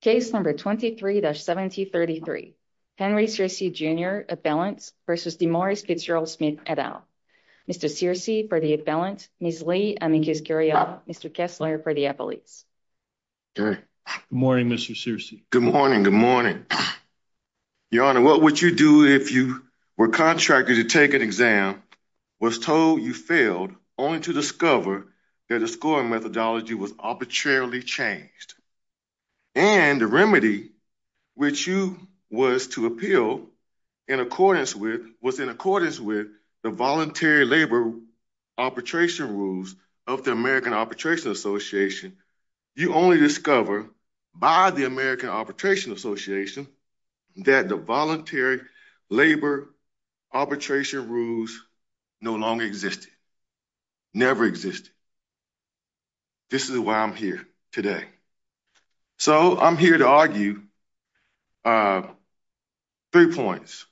Case number 23-1733, Henry Searcy, Jr. Appellant v. DeMaurice Fitzgerald Smith, et al. Mr. Searcy for the appellant, Ms. Lee Amicus Curiel, Mr. Kessler for the appellate. Good morning, Mr. Searcy. Good morning, good morning. Your Honor, what would you do if you were contracted to take an exam, was told you failed, only to discover that the scoring methodology was arbitrarily changed? And the remedy which you was to appeal in accordance with was in accordance with the voluntary labor arbitration rules of the American Arbitration Association. You only discover by the American Arbitration Association that the voluntary labor arbitration rules no longer existed, never existed. This is why I'm here today. So I'm here to argue three points.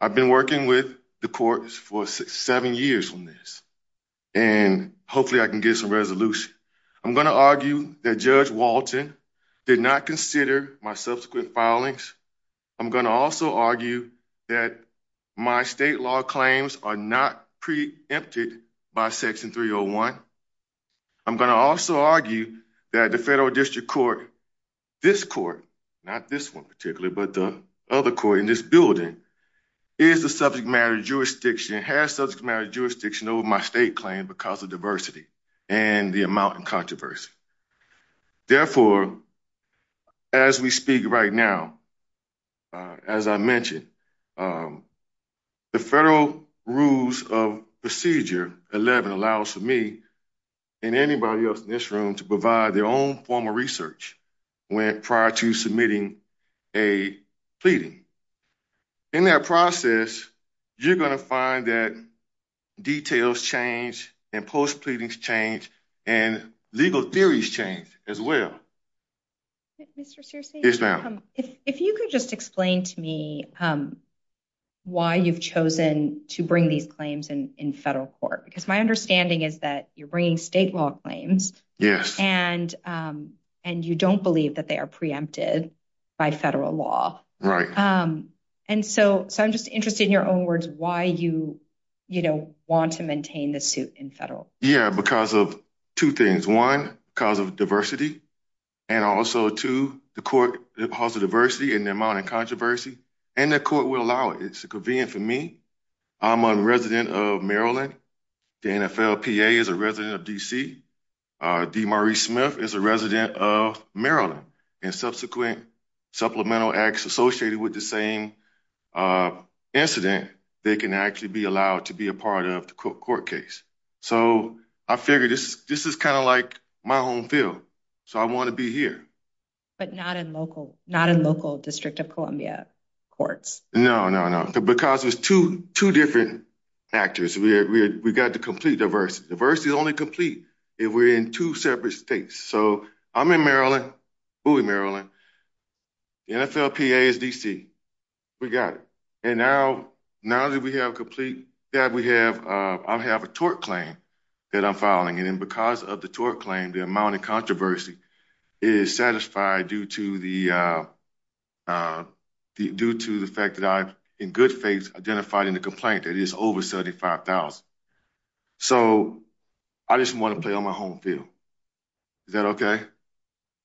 I've been working with the courts for seven years on this, and hopefully I can get some resolution. I'm going to argue that Judge Walton did not consider my subsequent filings. I'm going to also argue that my state law claims are not preempted by Section 301. I'm going to also argue that the federal district court, this court, not this one particularly, but the other court in this building, is the subject matter jurisdiction, has subject matter jurisdiction over my state claim because of diversity and the amount of controversy. Therefore, as we speak right now, as I mentioned, the federal rules of procedure 11 allows for me and anybody else in this room to provide their own form of research prior to submitting a pleading. In that process, you're going to find that details change and post-pleadings change and legal theories change as well. Mr. Searcy, if you could just explain to me why you've chosen to bring these claims in federal court, because my understanding is that you're bringing state law claims and you don't believe that they are preempted by federal law. So I'm just interested in your own words, why you want to maintain the suit in federal. Yeah, because of two things. One, because of diversity. And also, two, the court has the diversity and the amount of controversy and the court will allow it. It's convenient for me. I'm a resident of Maryland. The NFLPA is a resident of D.C. DeMarie Smith is a resident of Maryland. And subsequent supplemental acts associated with the same incident, they can actually be allowed to be a part of the court case. So I figured this is kind of like my home field. So I want to be here. But not in local District of Columbia courts? No, no, no. Because there's two different factors. We got to complete diversity. Diversity is only complete if we're in two separate states. So I'm in Maryland, Bowie, Maryland. NFLPA is D.C. We got it. Now that I have a tort claim that I'm filing, and because of the tort claim, the amount of controversy is satisfied due to the fact that I, in good faith, identified in the complaint that it is over $75,000. So I just want to play on my home field. Is that OK?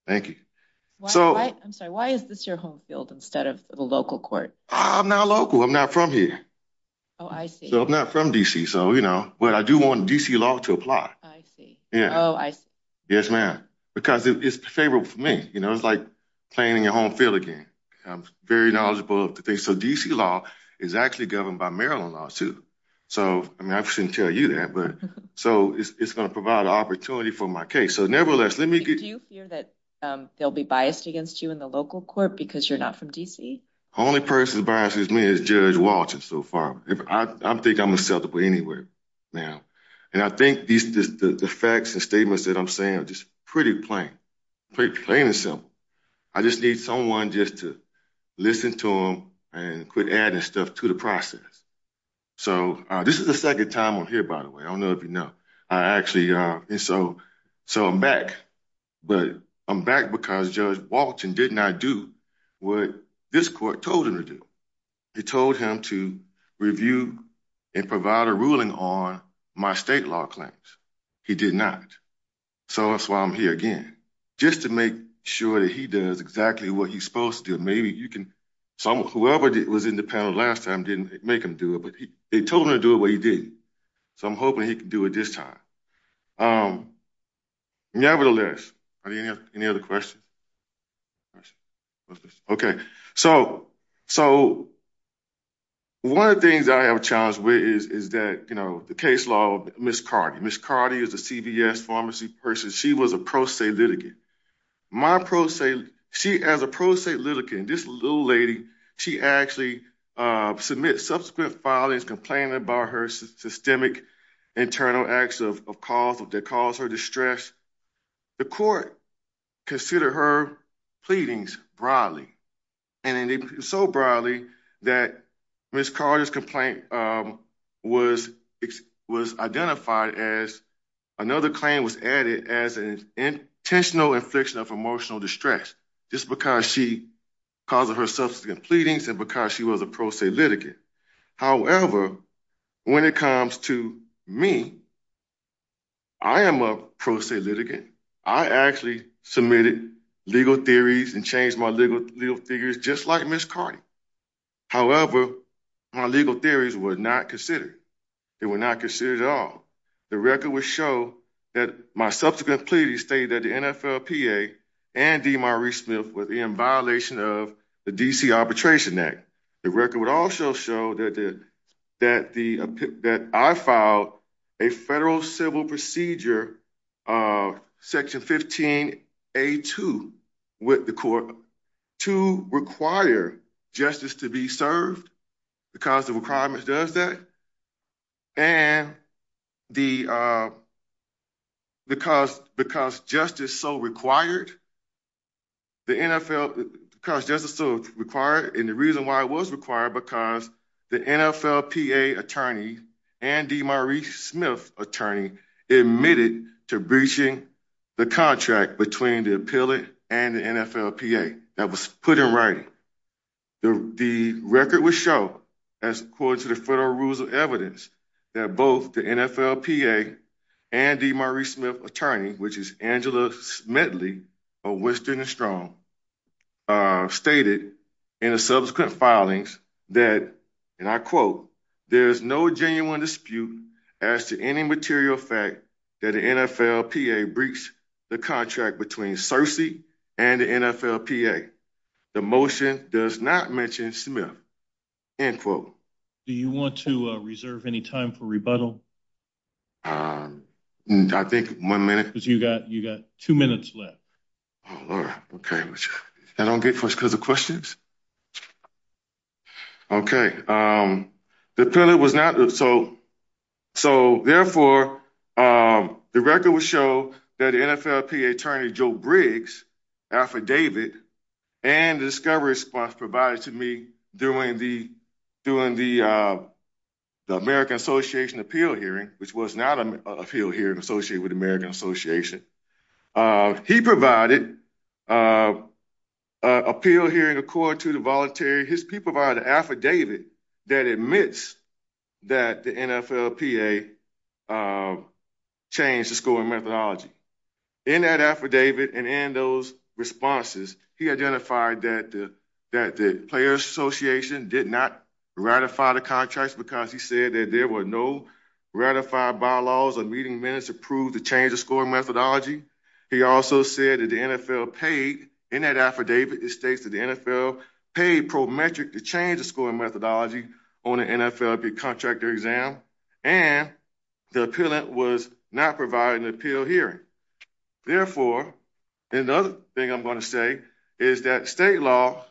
Thank you. I'm sorry. Why is this your home field instead of the local court? I'm not local. I'm not from here. Oh, I see. So I'm not from D.C. So, you know, but I do want D.C. law to apply. I see. Yeah. Oh, I see. Yes, ma'am. Because it's favorable for me. You know, it's like playing in your home field again. I'm very knowledgeable of the things. So D.C. law is actually governed by Maryland law, too. So, I mean, I shouldn't tell you that. But so it's going to provide an opportunity for my case. So nevertheless, let me get... Do you fear that they'll be biased against you in the local court because you're not from D.C.? The only person that biases me is Judge Walton so far. I think I'm acceptable anywhere now. And I think the facts and statements that I'm saying are just pretty plain. Pretty plain and simple. I just need someone just to listen to them and quit adding stuff to the process. So this is the second time I'm here, by the way. I don't know if you know. I actually... So I'm back. But I'm back because Judge Walton did not do what... This court told him to do. He told him to review and provide a ruling on my state law claims. He did not. So that's why I'm here again. Just to make sure that he does exactly what he's supposed to do. Maybe you can... Whoever was in the panel last time didn't make him do it. But they told him to do it, but he didn't. So I'm hoping he can do it this time. Nevertheless, are there any other questions? Okay. So one of the things I have a challenge with is that the case law of Ms. Cardi. Ms. Cardi is a CVS pharmacy person. She was a pro se litigant. My pro se... She, as a pro se litigant, this little lady, she actually submitted subsequent filings complaining about her systemic internal acts of cause that caused her distress. The court considered her pleadings broadly. And so broadly that Ms. Cardi's complaint was identified as... Another claim was added as an intentional infliction of emotional distress. Just because she caused her subsequent pleadings and because she was a pro se litigant. However, when it comes to me, I am a pro se litigant. I actually submitted legal theories and changed my legal figures just like Ms. Cardi. However, my legal theories were not considered. They were not considered at all. The record would show that my subsequent pleadings stated that the NFLPA and DeMarie Smith was in violation of the DC Arbitration Act. The record would also show that I filed a federal civil procedure, Section 15A2 with the court to require justice to be served because the requirements does that. And because justice so required, and the reason why it was required because the NFLPA attorney and DeMarie Smith attorney admitted to breaching the contract between the appellate and the NFLPA that was put in writing. The record would show as according to the federal rules of evidence that both the NFLPA and DeMarie Smith attorney, which is Angela Smitley, of Winston and Strong, stated in the subsequent filings that, and I quote, there's no genuine dispute as to any material fact that the NFLPA breached the contract between Searcy and the NFLPA. The motion does not mention Smith, end quote. Do you want to reserve any time for rebuttal? I think one minute. You got two minutes left. Okay. I don't get first because of questions. Okay. So, therefore, the record would show that NFLPA attorney Joe Briggs affidavit and the discovery response provided to me during the American Association appeal hearing, which was not an appeal hearing associated with the American Association. He provided an appeal hearing according to the voluntary, he provided an affidavit that admits that the NFLPA changed the scoring methodology. In that affidavit and in those responses, he identified that the players association did not ratify the contracts because he said that there were no ratified bylaws or meeting minutes to prove the change of scoring methodology. He also said that the NFL paid in that affidavit, it states that the NFL paid pro metric to change the scoring methodology on an NFLPA contractor exam, and the appealant was not providing an appeal hearing. Therefore, another thing I'm going to say is that state law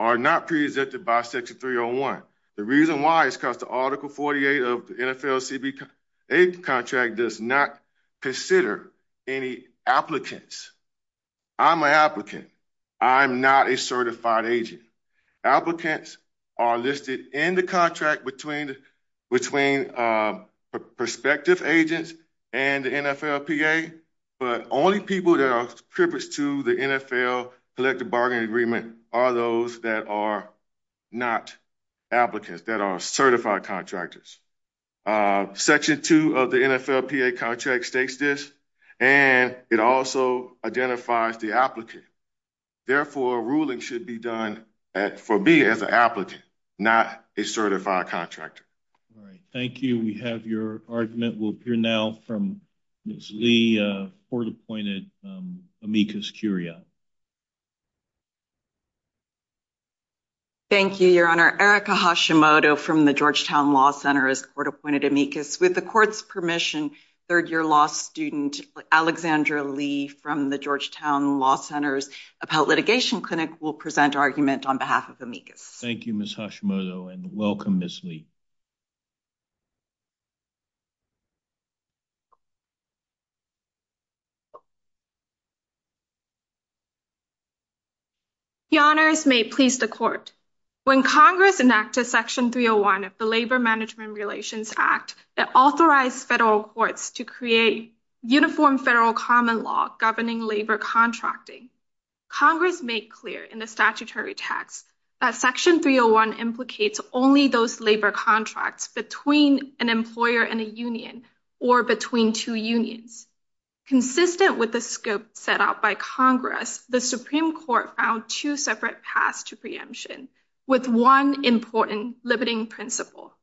are not presented by section 301. The reason why is because the article 48 of the NFL contract does not consider any applicants. I'm an applicant. I'm not a certified agent. Applicants are listed in the contract between prospective agents and the NFLPA, but only people that are privileged to the NFL collective bargaining agreement are those that are not applicants, that are certified contractors. Section two of the NFLPA contract states this, and it also identifies the applicant. Therefore, a ruling should be done for me as an applicant, not a certified contractor. All right. Thank you. We have your argument. We'll hear now from Ms. Lee, court-appointed amicus curia. Thank you, Your Honor. Erica Hashimoto from the Georgetown Law Center is court-appointed amicus. With the court's permission, third-year law student Alexandra Lee from the Georgetown Law Center's Appellate Litigation Clinic will present argument on behalf of amicus. Thank you, Ms. Hashimoto, and welcome, Ms. Lee. Your Honors may please the court. When Congress enacted section 301 of the Labor Management Relations Act that authorized federal courts to create uniform federal common law governing labor contracting, Congress made clear in the statutory text that section 301 implicates only those labor contracts between an employer and a union, or between two unions. Consistent with the scope set out by Congress, the Supreme Court found two separate paths to preemption, with one important limiting principle,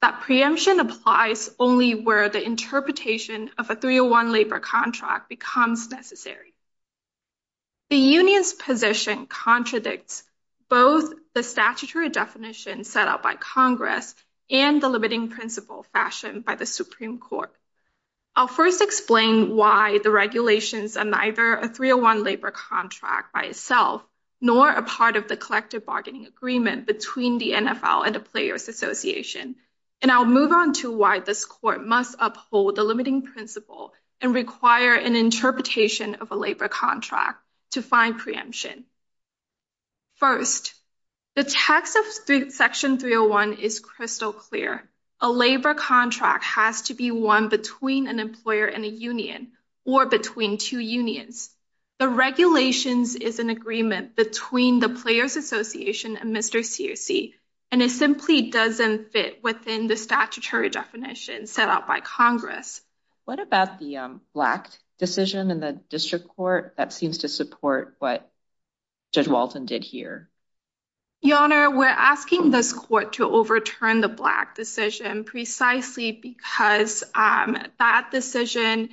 that preemption applies only where the interpretation of a 301 labor contract becomes necessary. The union's position contradicts both the statutory definition set out by Congress and the limiting principle fashioned by the Supreme Court. I'll first explain why the regulations are neither a 301 labor contract by itself, nor a part of the collective bargaining agreement between the NFL and the Players Association, and I'll move on to why this is a 301 labor contract to find preemption. First, the text of section 301 is crystal clear. A labor contract has to be one between an employer and a union, or between two unions. The regulations is an agreement between the Players Association and Mr. Searcy, and it simply doesn't fit within the statutory definition set out by Congress. What about the Black decision in the district court that seems to support what Judge Walton did here? Your Honor, we're asking this court to overturn the Black decision precisely because that decision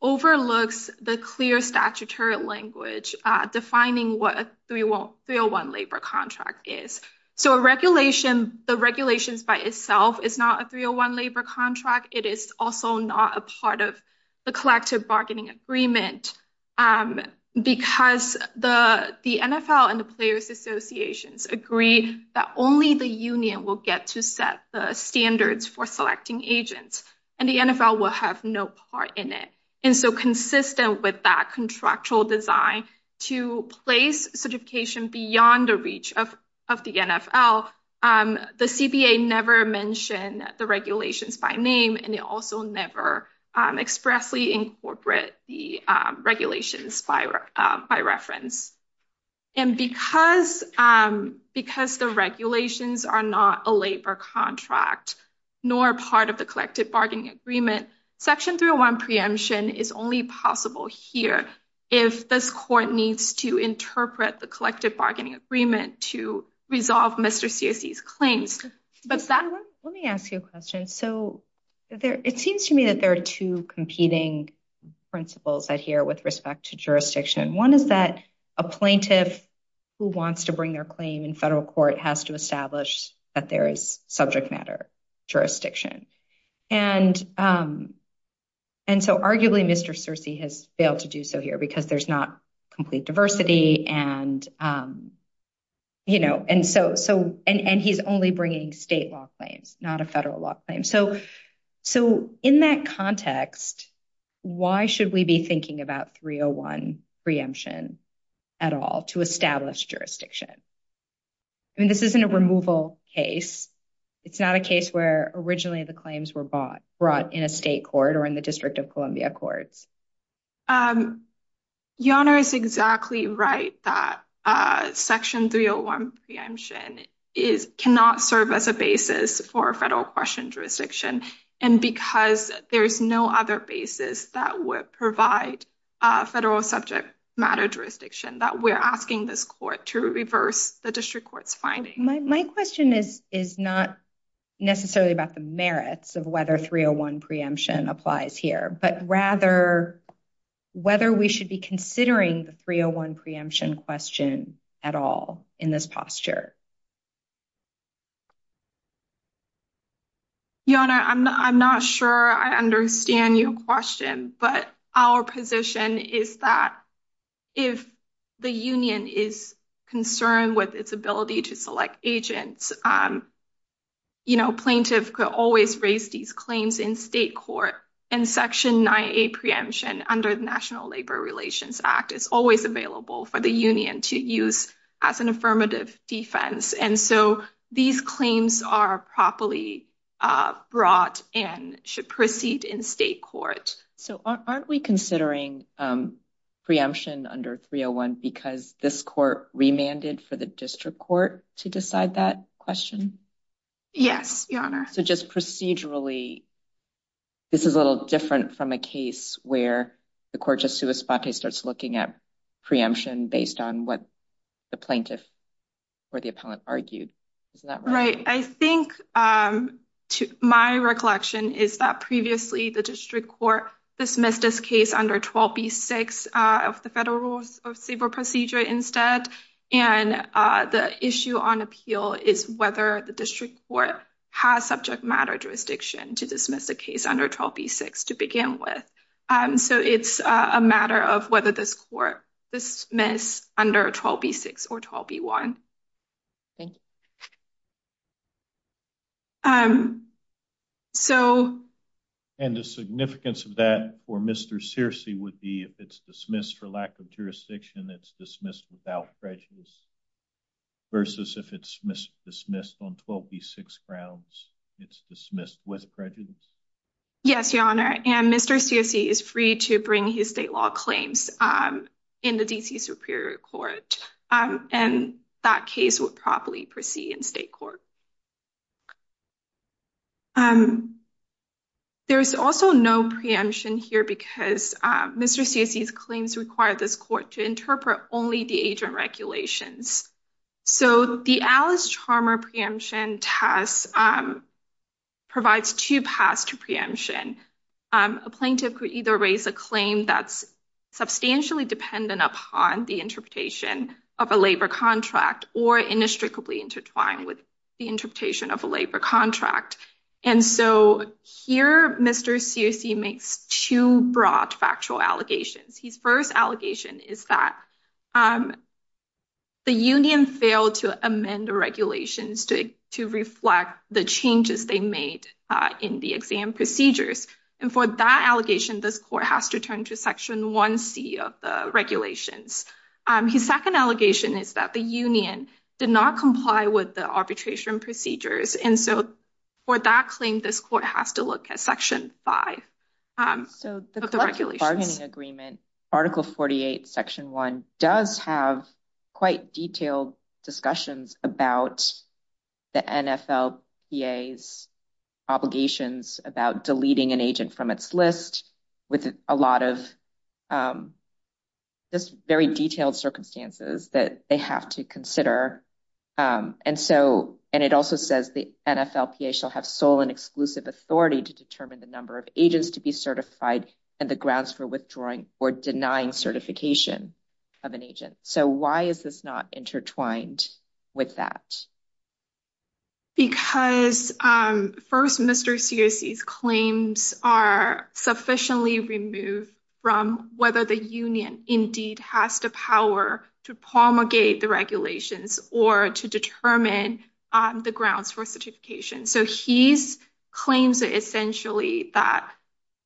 overlooks the clear statutory language defining what a 301 labor contract is. So a regulation, the regulations by itself, is not a 301 labor contract. It is also not a part of the collective bargaining agreement because the NFL and the Players Associations agree that only the union will get to set the standards for selecting agents, and the NFL will have no part in it. And so consistent with that contractual design to place certification beyond the reach of the CBA never mentioned the regulations by name, and they also never expressly incorporate the regulations by reference. And because the regulations are not a labor contract, nor part of the collective bargaining agreement, section 301 preemption is only possible here if this court needs to interpret the collective bargaining agreement to resolve Mr. Searcy's claims. Let me ask you a question. So it seems to me that there are two competing principles that here with respect to jurisdiction. One is that a plaintiff who wants to bring their claim in federal court has to establish that there is subject matter jurisdiction. And so arguably, Mr. Searcy has failed to do so here because there's not complete diversity and he's only bringing state law claims, not a federal law claim. So in that context, why should we be thinking about 301 preemption at all to establish jurisdiction? I mean, this isn't a removal case. It's not a case where originally the claims were brought in a state court or in the District of Columbia courts. Your Honor is exactly right that section 301 preemption cannot serve as a basis for federal question jurisdiction. And because there is no other basis that would provide federal subject matter jurisdiction that we're asking this court to reverse the District Court's finding. My question is not necessarily about the merits of whether 301 preemption applies here, but rather whether we should be considering the 301 preemption question at all in this posture. Your Honor, I'm not sure I understand your question, but our position is that if the union is concerned with its ability to select agents, you know, plaintiff could always raise these claims. Section 9A preemption under the National Labor Relations Act is always available for the union to use as an affirmative defense. And so these claims are properly brought and should proceed in state court. So aren't we considering preemption under 301 because this court remanded for the District Court to decide that question? Yes, Your Honor. So just procedurally, this is a little different from a case where the court just sui spate starts looking at preemption based on what the plaintiff or the appellant argued. Isn't that right? Right. I think my recollection is that previously the District Court dismissed this case under 12B6 of the federal rules of civil procedure instead. And the issue on appeal is whether the District Court has subject matter jurisdiction to dismiss a case under 12B6 to begin with. So it's a matter of whether this court dismiss under 12B6 or 12B1. Thank you. And the significance of that for Mr. Searcy would be if it's dismissed for lack of jurisdiction, it's dismissed without prejudice versus if it's dismissed on 12B6 grounds, it's dismissed with prejudice. Yes, Your Honor. And Mr. Searcy is free to bring his state law claims in the D.C. Superior Court. And that case would properly proceed in state court. There's also no preemption here because Mr. Searcy's claims require this court to interpret only the agent regulations. So the Alice Charmer preemption test provides two paths to preemption. A plaintiff could either raise a claim that's substantially dependent upon the interpretation of a labor contract or inextricably intertwined with the interpretation of a labor contract. And so here Mr. Searcy makes two broad factual allegations. His first allegation is that the union failed to amend the regulations to reflect the changes they made in the exam procedures. And for that allegation, this court has to turn to Section 1C of the regulations. His second allegation is that the union did not comply with the arbitration procedures. And so for that claim, this court has to look at Section 5 of the regulations. So the Article 48 Section 1 does have quite detailed discussions about the NFLPA's obligations about deleting an agent from its list with a lot of just very detailed circumstances that they have to consider. And so and it also says the NFLPA shall have sole and exclusive authority to determine the number of agents to be certified and the grounds for withdrawing or denying certification of an agent. So why is this not intertwined with that? Because first Mr. Searcy's claims are sufficiently removed from whether the union indeed has the power to promulgate the regulations or to determine the grounds for certification. So his claims are essentially that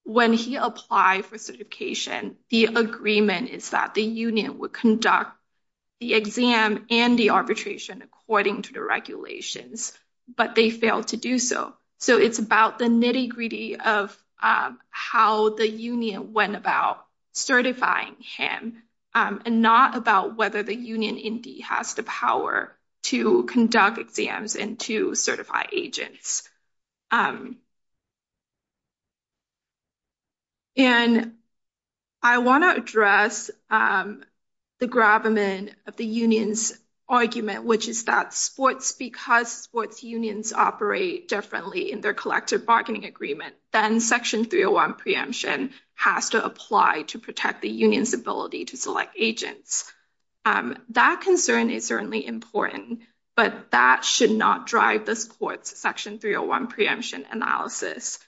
when he applied for certification, the agreement is that the union would conduct the exam and the arbitration according to the regulations, but they failed to do so. So it's about the nitty gritty of how the union went about certifying him and not about whether the union indeed has the power to conduct exams and to certify agents. And I want to address the gravamen of the union's argument, which is that sports, because sports unions operate differently in their collective agreement, then section 301 preemption has to apply to protect the union's ability to select agents. That concern is certainly important, but that should not drive this court's section 301 preemption analysis.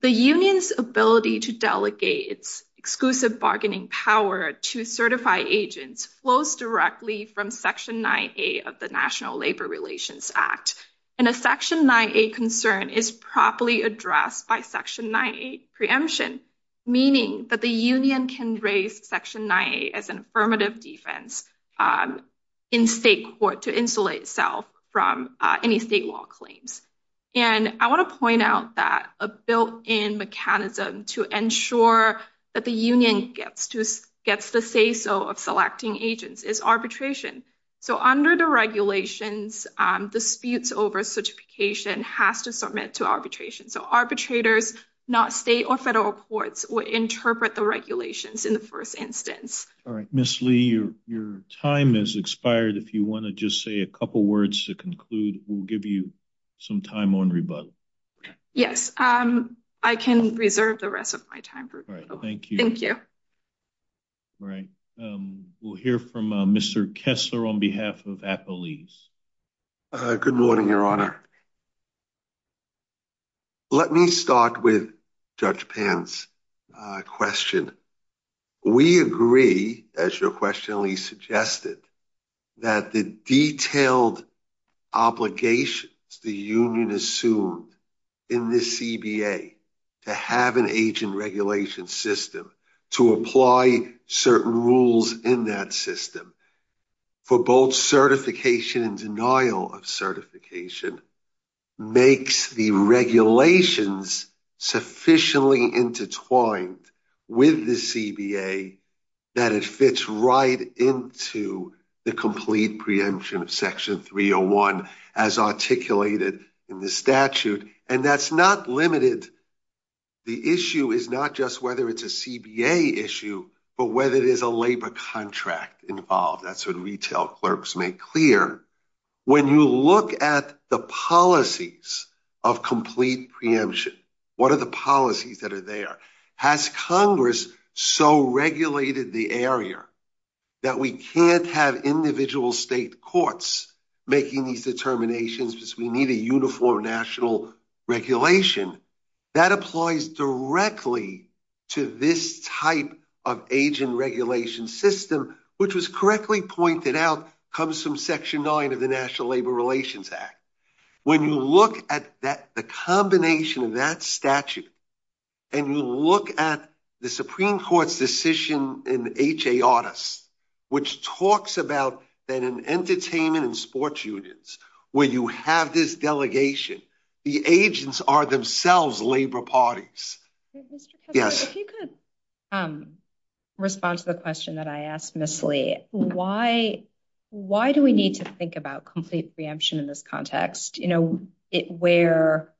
The union's ability to delegate its exclusive bargaining power to certify agents flows directly from section 9A of the National Labor Relations Act. And a section 9A concern is properly addressed by section 9A preemption, meaning that the union can raise section 9A as an affirmative defense in state court to insulate itself from any state law claims. And I want to point out that a built-in mechanism to ensure that the union gets the say-so of arbitration. So arbitrators, not state or federal courts, will interpret the regulations in the first instance. All right, Ms. Lee, your time has expired. If you want to just say a couple words to conclude, we'll give you some time on rebuttal. Yes, I can reserve the rest of my time. Thank you. Thank you. All right, we'll hear from Mr. Kessler on behalf of Apple East. Good morning, Your Honor. Let me start with Judge Pence's question. We agree, as your question, Lee, suggested that the detailed obligations the union assumed in this CBA to have an agent regulation system, to apply certain rules in that system for both certification and denial of certification, makes the regulations sufficiently intertwined with the CBA that it fits right into the complete preemption of section 301 as articulated in the statute. And that's not limited. The issue is not just whether it's a CBA issue, but whether there's a labor contract involved. That's what retail clerks make clear. When you look at the policies of complete preemption, what are the policies that are there? Has Congress so regulated the area that we can't have individual state courts making these determinations because we need a uniform national regulation? That applies directly to this type of agent regulation system, which was correctly pointed out, comes from section 9 of the National Labor Relations Act. When you look at the combination of that statute and you look at the Supreme Court's decision in H.A. Audis, which talks about that in entertainment and sports unions, where you have this delegation, the agents are themselves labor parties. If you could respond to the question that I asked Ms. Lee, why do we need to think about complete preemption in this context, where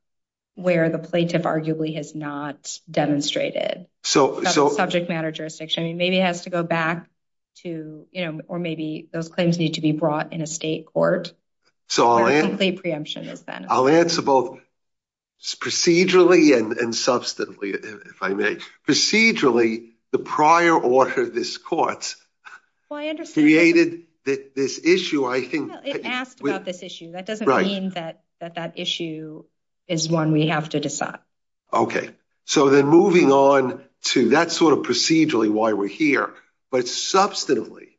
the plaintiff arguably has not demonstrated subject matter jurisdiction? Maybe it has to go back to, or maybe those claims need to be brought in a state court. So I'll answer both procedurally and substantively, if I may. Procedurally, the prior order of this court created this issue. It asked about this issue. That doesn't mean that that issue is one we have to decide. Okay, so then moving on to that sort of procedurally why we're here, but substantively,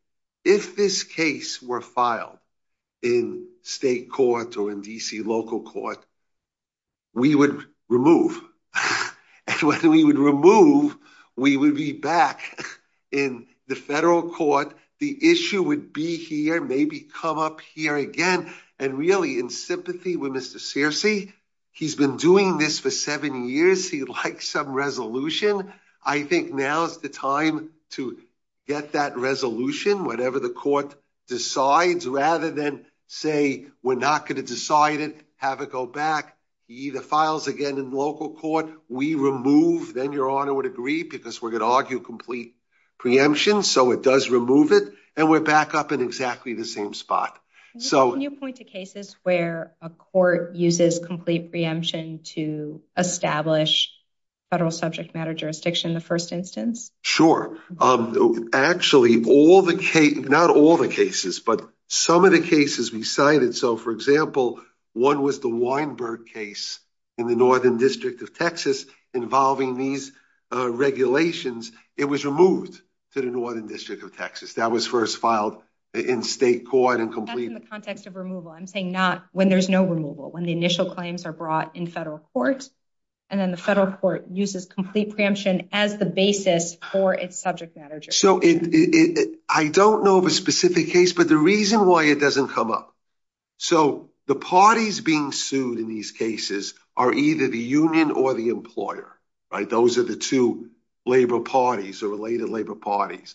if this case were filed in state court or in D.C. local court, we would remove. And when we would remove, we would be back in the federal court. The issue would be here, maybe come up here again. And really, in sympathy with Mr. Searcy, he's been doing this for seven years. He'd like some resolution. I think now's the time to get that resolution, whatever the court decides, rather than say, we're not going to decide it, have it go back. He either files again in local court, we remove, then Your Honor would agree, because we're going to argue complete preemption. So it does and we're back up in exactly the same spot. Can you point to cases where a court uses complete preemption to establish federal subject matter jurisdiction in the first instance? Sure. Actually, not all the cases, but some of the cases we cited. So for example, one was the Weinberg case in the Northern District of Texas involving these regulations. It was removed to the Northern District of Texas. That was first filed in state court. That's in the context of removal. I'm saying not when there's no removal, when the initial claims are brought in federal court, and then the federal court uses complete preemption as the basis for its subject matter jurisdiction. So I don't know of a specific case, but the reason why it doesn't come up. So the parties being sued in these cases are either the union or the employer, those are the two labor parties or related labor parties.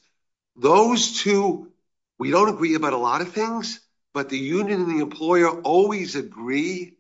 Those two, we don't agree about a lot of things, but the union and the employer always agree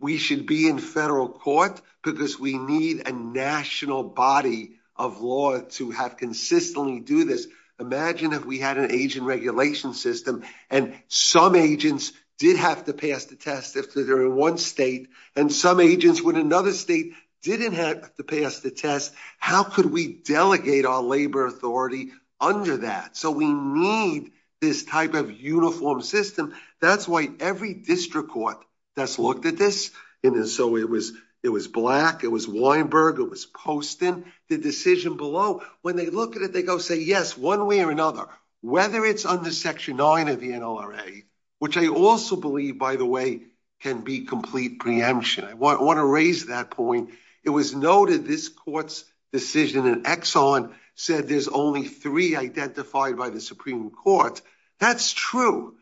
we should be in federal court because we need a national body of law to have consistently do this. Imagine if we had an agent regulation system, and some agents did have to pass the test if they're in one state, and some agents in another state didn't have to pass the test. How could we delegate our labor authority under that? So we need this type of uniform system. That's why every district court that's looked at this, and so it was it was Black, it was Weinberg, it was Poston, the decision below. When they look at it, they go say, yes, one way or another, whether it's under Section 9 of the NLRA, which I also believe, by the way, can be complete preemption. I want to raise that point. It was noted this court's decision in Exxon said there's only three identified by the Supreme Court. That's true,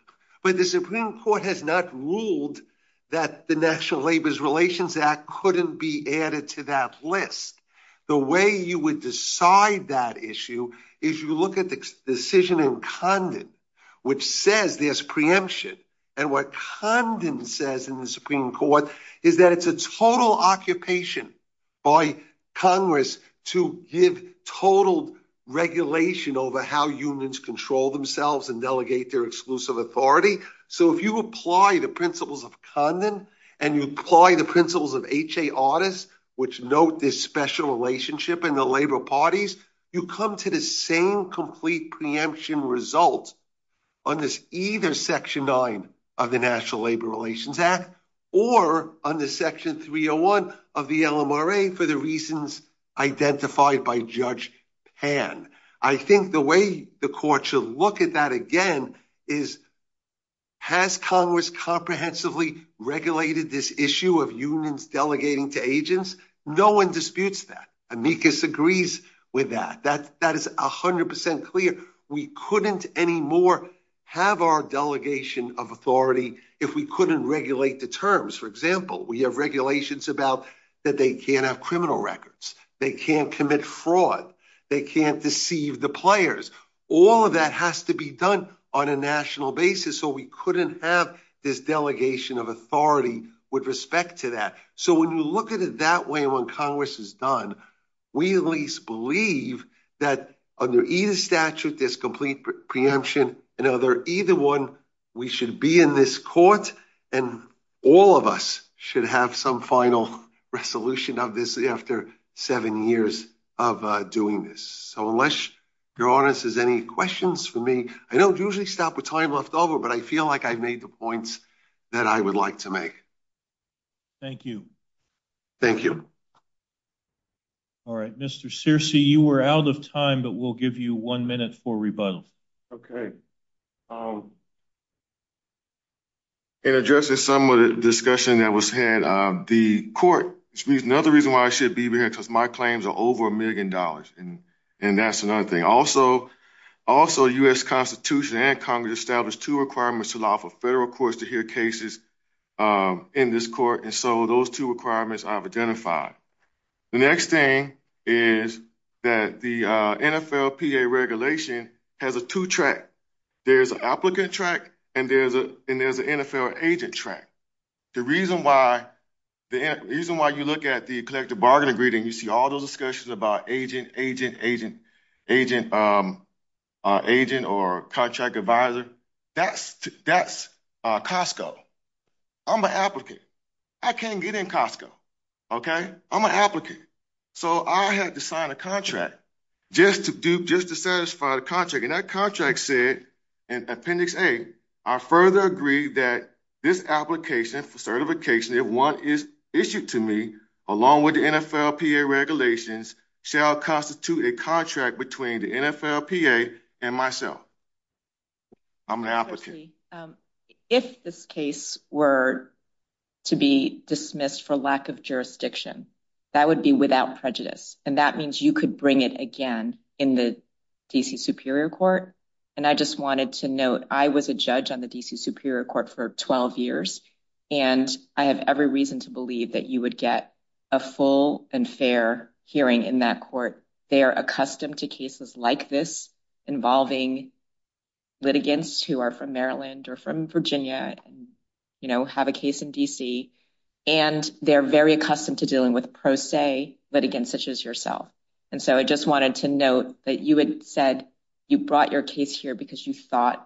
but the Supreme Court has not ruled that the National Labor Relations Act couldn't be added to that list. The way you would decide that issue is you look at the decision in Condon, which says there's preemption, and what Condon says in the Supreme Court is that it's a total occupation by Congress to give total regulation over how unions control themselves and delegate their exclusive authority. So if you apply the principles of Condon, and you apply the principles of H.A. Audis, which note this special relationship in the labor parties, you come to the same preemption result under either Section 9 of the National Labor Relations Act, or under Section 301 of the LMRA for the reasons identified by Judge Pan. I think the way the court should look at that again is, has Congress comprehensively regulated this issue of unions delegating to Congress? We couldn't anymore have our delegation of authority if we couldn't regulate the terms. For example, we have regulations about that they can't have criminal records, they can't commit fraud, they can't deceive the players. All of that has to be done on a national basis, so we couldn't have this delegation of authority with respect to that. So when you look at it that way, when believe that under either statute there's complete preemption, and either one, we should be in this court, and all of us should have some final resolution of this after seven years of doing this. So unless your Honor, there's any questions for me, I don't usually stop with time left over, but I feel like I've made the points that I would like to make. Thank you. Thank you. All right, Mr. Searcy, you were out of time, but we'll give you one minute for rebuttal. Okay. In addressing some of the discussion that was had, the court, which means another reason why I should be here, because my claims are over a million dollars, and that's another thing. Also, U.S. Constitution and Congress established two requirements to allow for federal courts to hear cases in this court, and so those two requirements I've identified. The next thing is that the NFL PA regulation has a two-track. There's an applicant track, and there's an NFL agent track. The reason why you look at the collective bargain agreement, you see all those discussions about agent, agent, agent, agent, agent, or contract advisor, that's Costco. I'm an applicant. I can't get in Costco, okay? I'm an applicant. So I have to sign a contract just to satisfy the contract, and that contract said in Appendix A, I further agree that this application for constitute a contract between the NFL PA and myself. I'm an applicant. If this case were to be dismissed for lack of jurisdiction, that would be without prejudice, and that means you could bring it again in the D.C. Superior Court, and I just wanted to note, I was a judge on the D.C. Superior Court for 12 years, and I have every reason to believe that you would get a full and fair hearing in that court. They are accustomed to cases like this involving litigants who are from Maryland or from Virginia and have a case in D.C., and they're very accustomed to dealing with pro se litigants such as yourself, and so I just wanted to note that you had said you brought your case here because you thought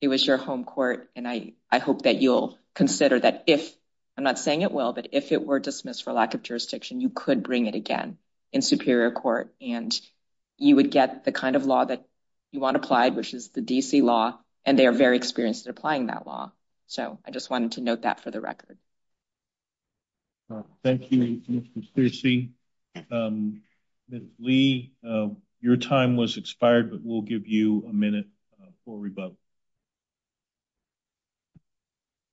it was your home court, and I hope that you'll consider that if, I'm not saying it will, but if it were dismissed for lack of jurisdiction, you could bring it again in Superior Court, and you would get the kind of law that you want applied, which is the D.C. law, and they are very experienced at applying that law, so I just wanted to note that for the record. Thank you, Mr. Stiercy. Ms. Lee, your time was expired, but we'll give you a minute for rebuttal.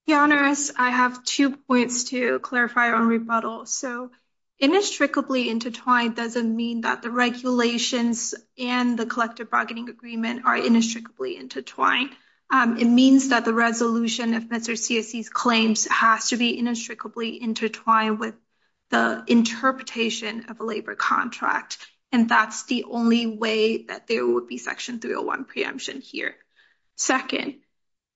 Your Honor, I have two points to clarify on rebuttal. So, inextricably intertwined doesn't mean that the regulations and the collective bargaining agreement are inextricably intertwined. It means that the resolution of Mr. Stiercy's claims has to be inextricably intertwined with the interpretation of a labor contract, and that's the only way that there would be Section 301 preemption here. Second,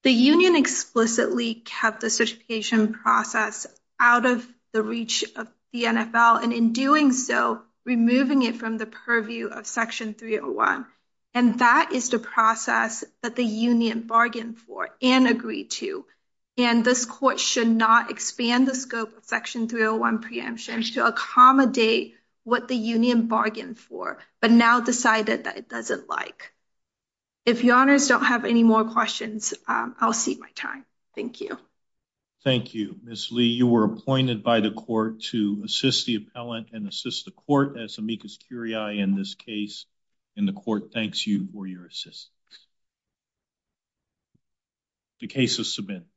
the union explicitly kept the certification process out of the reach of the NFL, and in doing so, removing it from the purview of Section 301, and that is the process that the union bargained for and agreed to, and this Court should not expand the scope of Section 301 preemption to accommodate what the union bargained for, but now decided that it doesn't like. If your Honors don't have any more questions, I'll cede my time. Thank you. Thank you, Ms. Lee. You were appointed by the Court to assist the appellant and assist the Court, as Amicus Curiae in this case in the Court thanks you for your assistance. The case is submitted.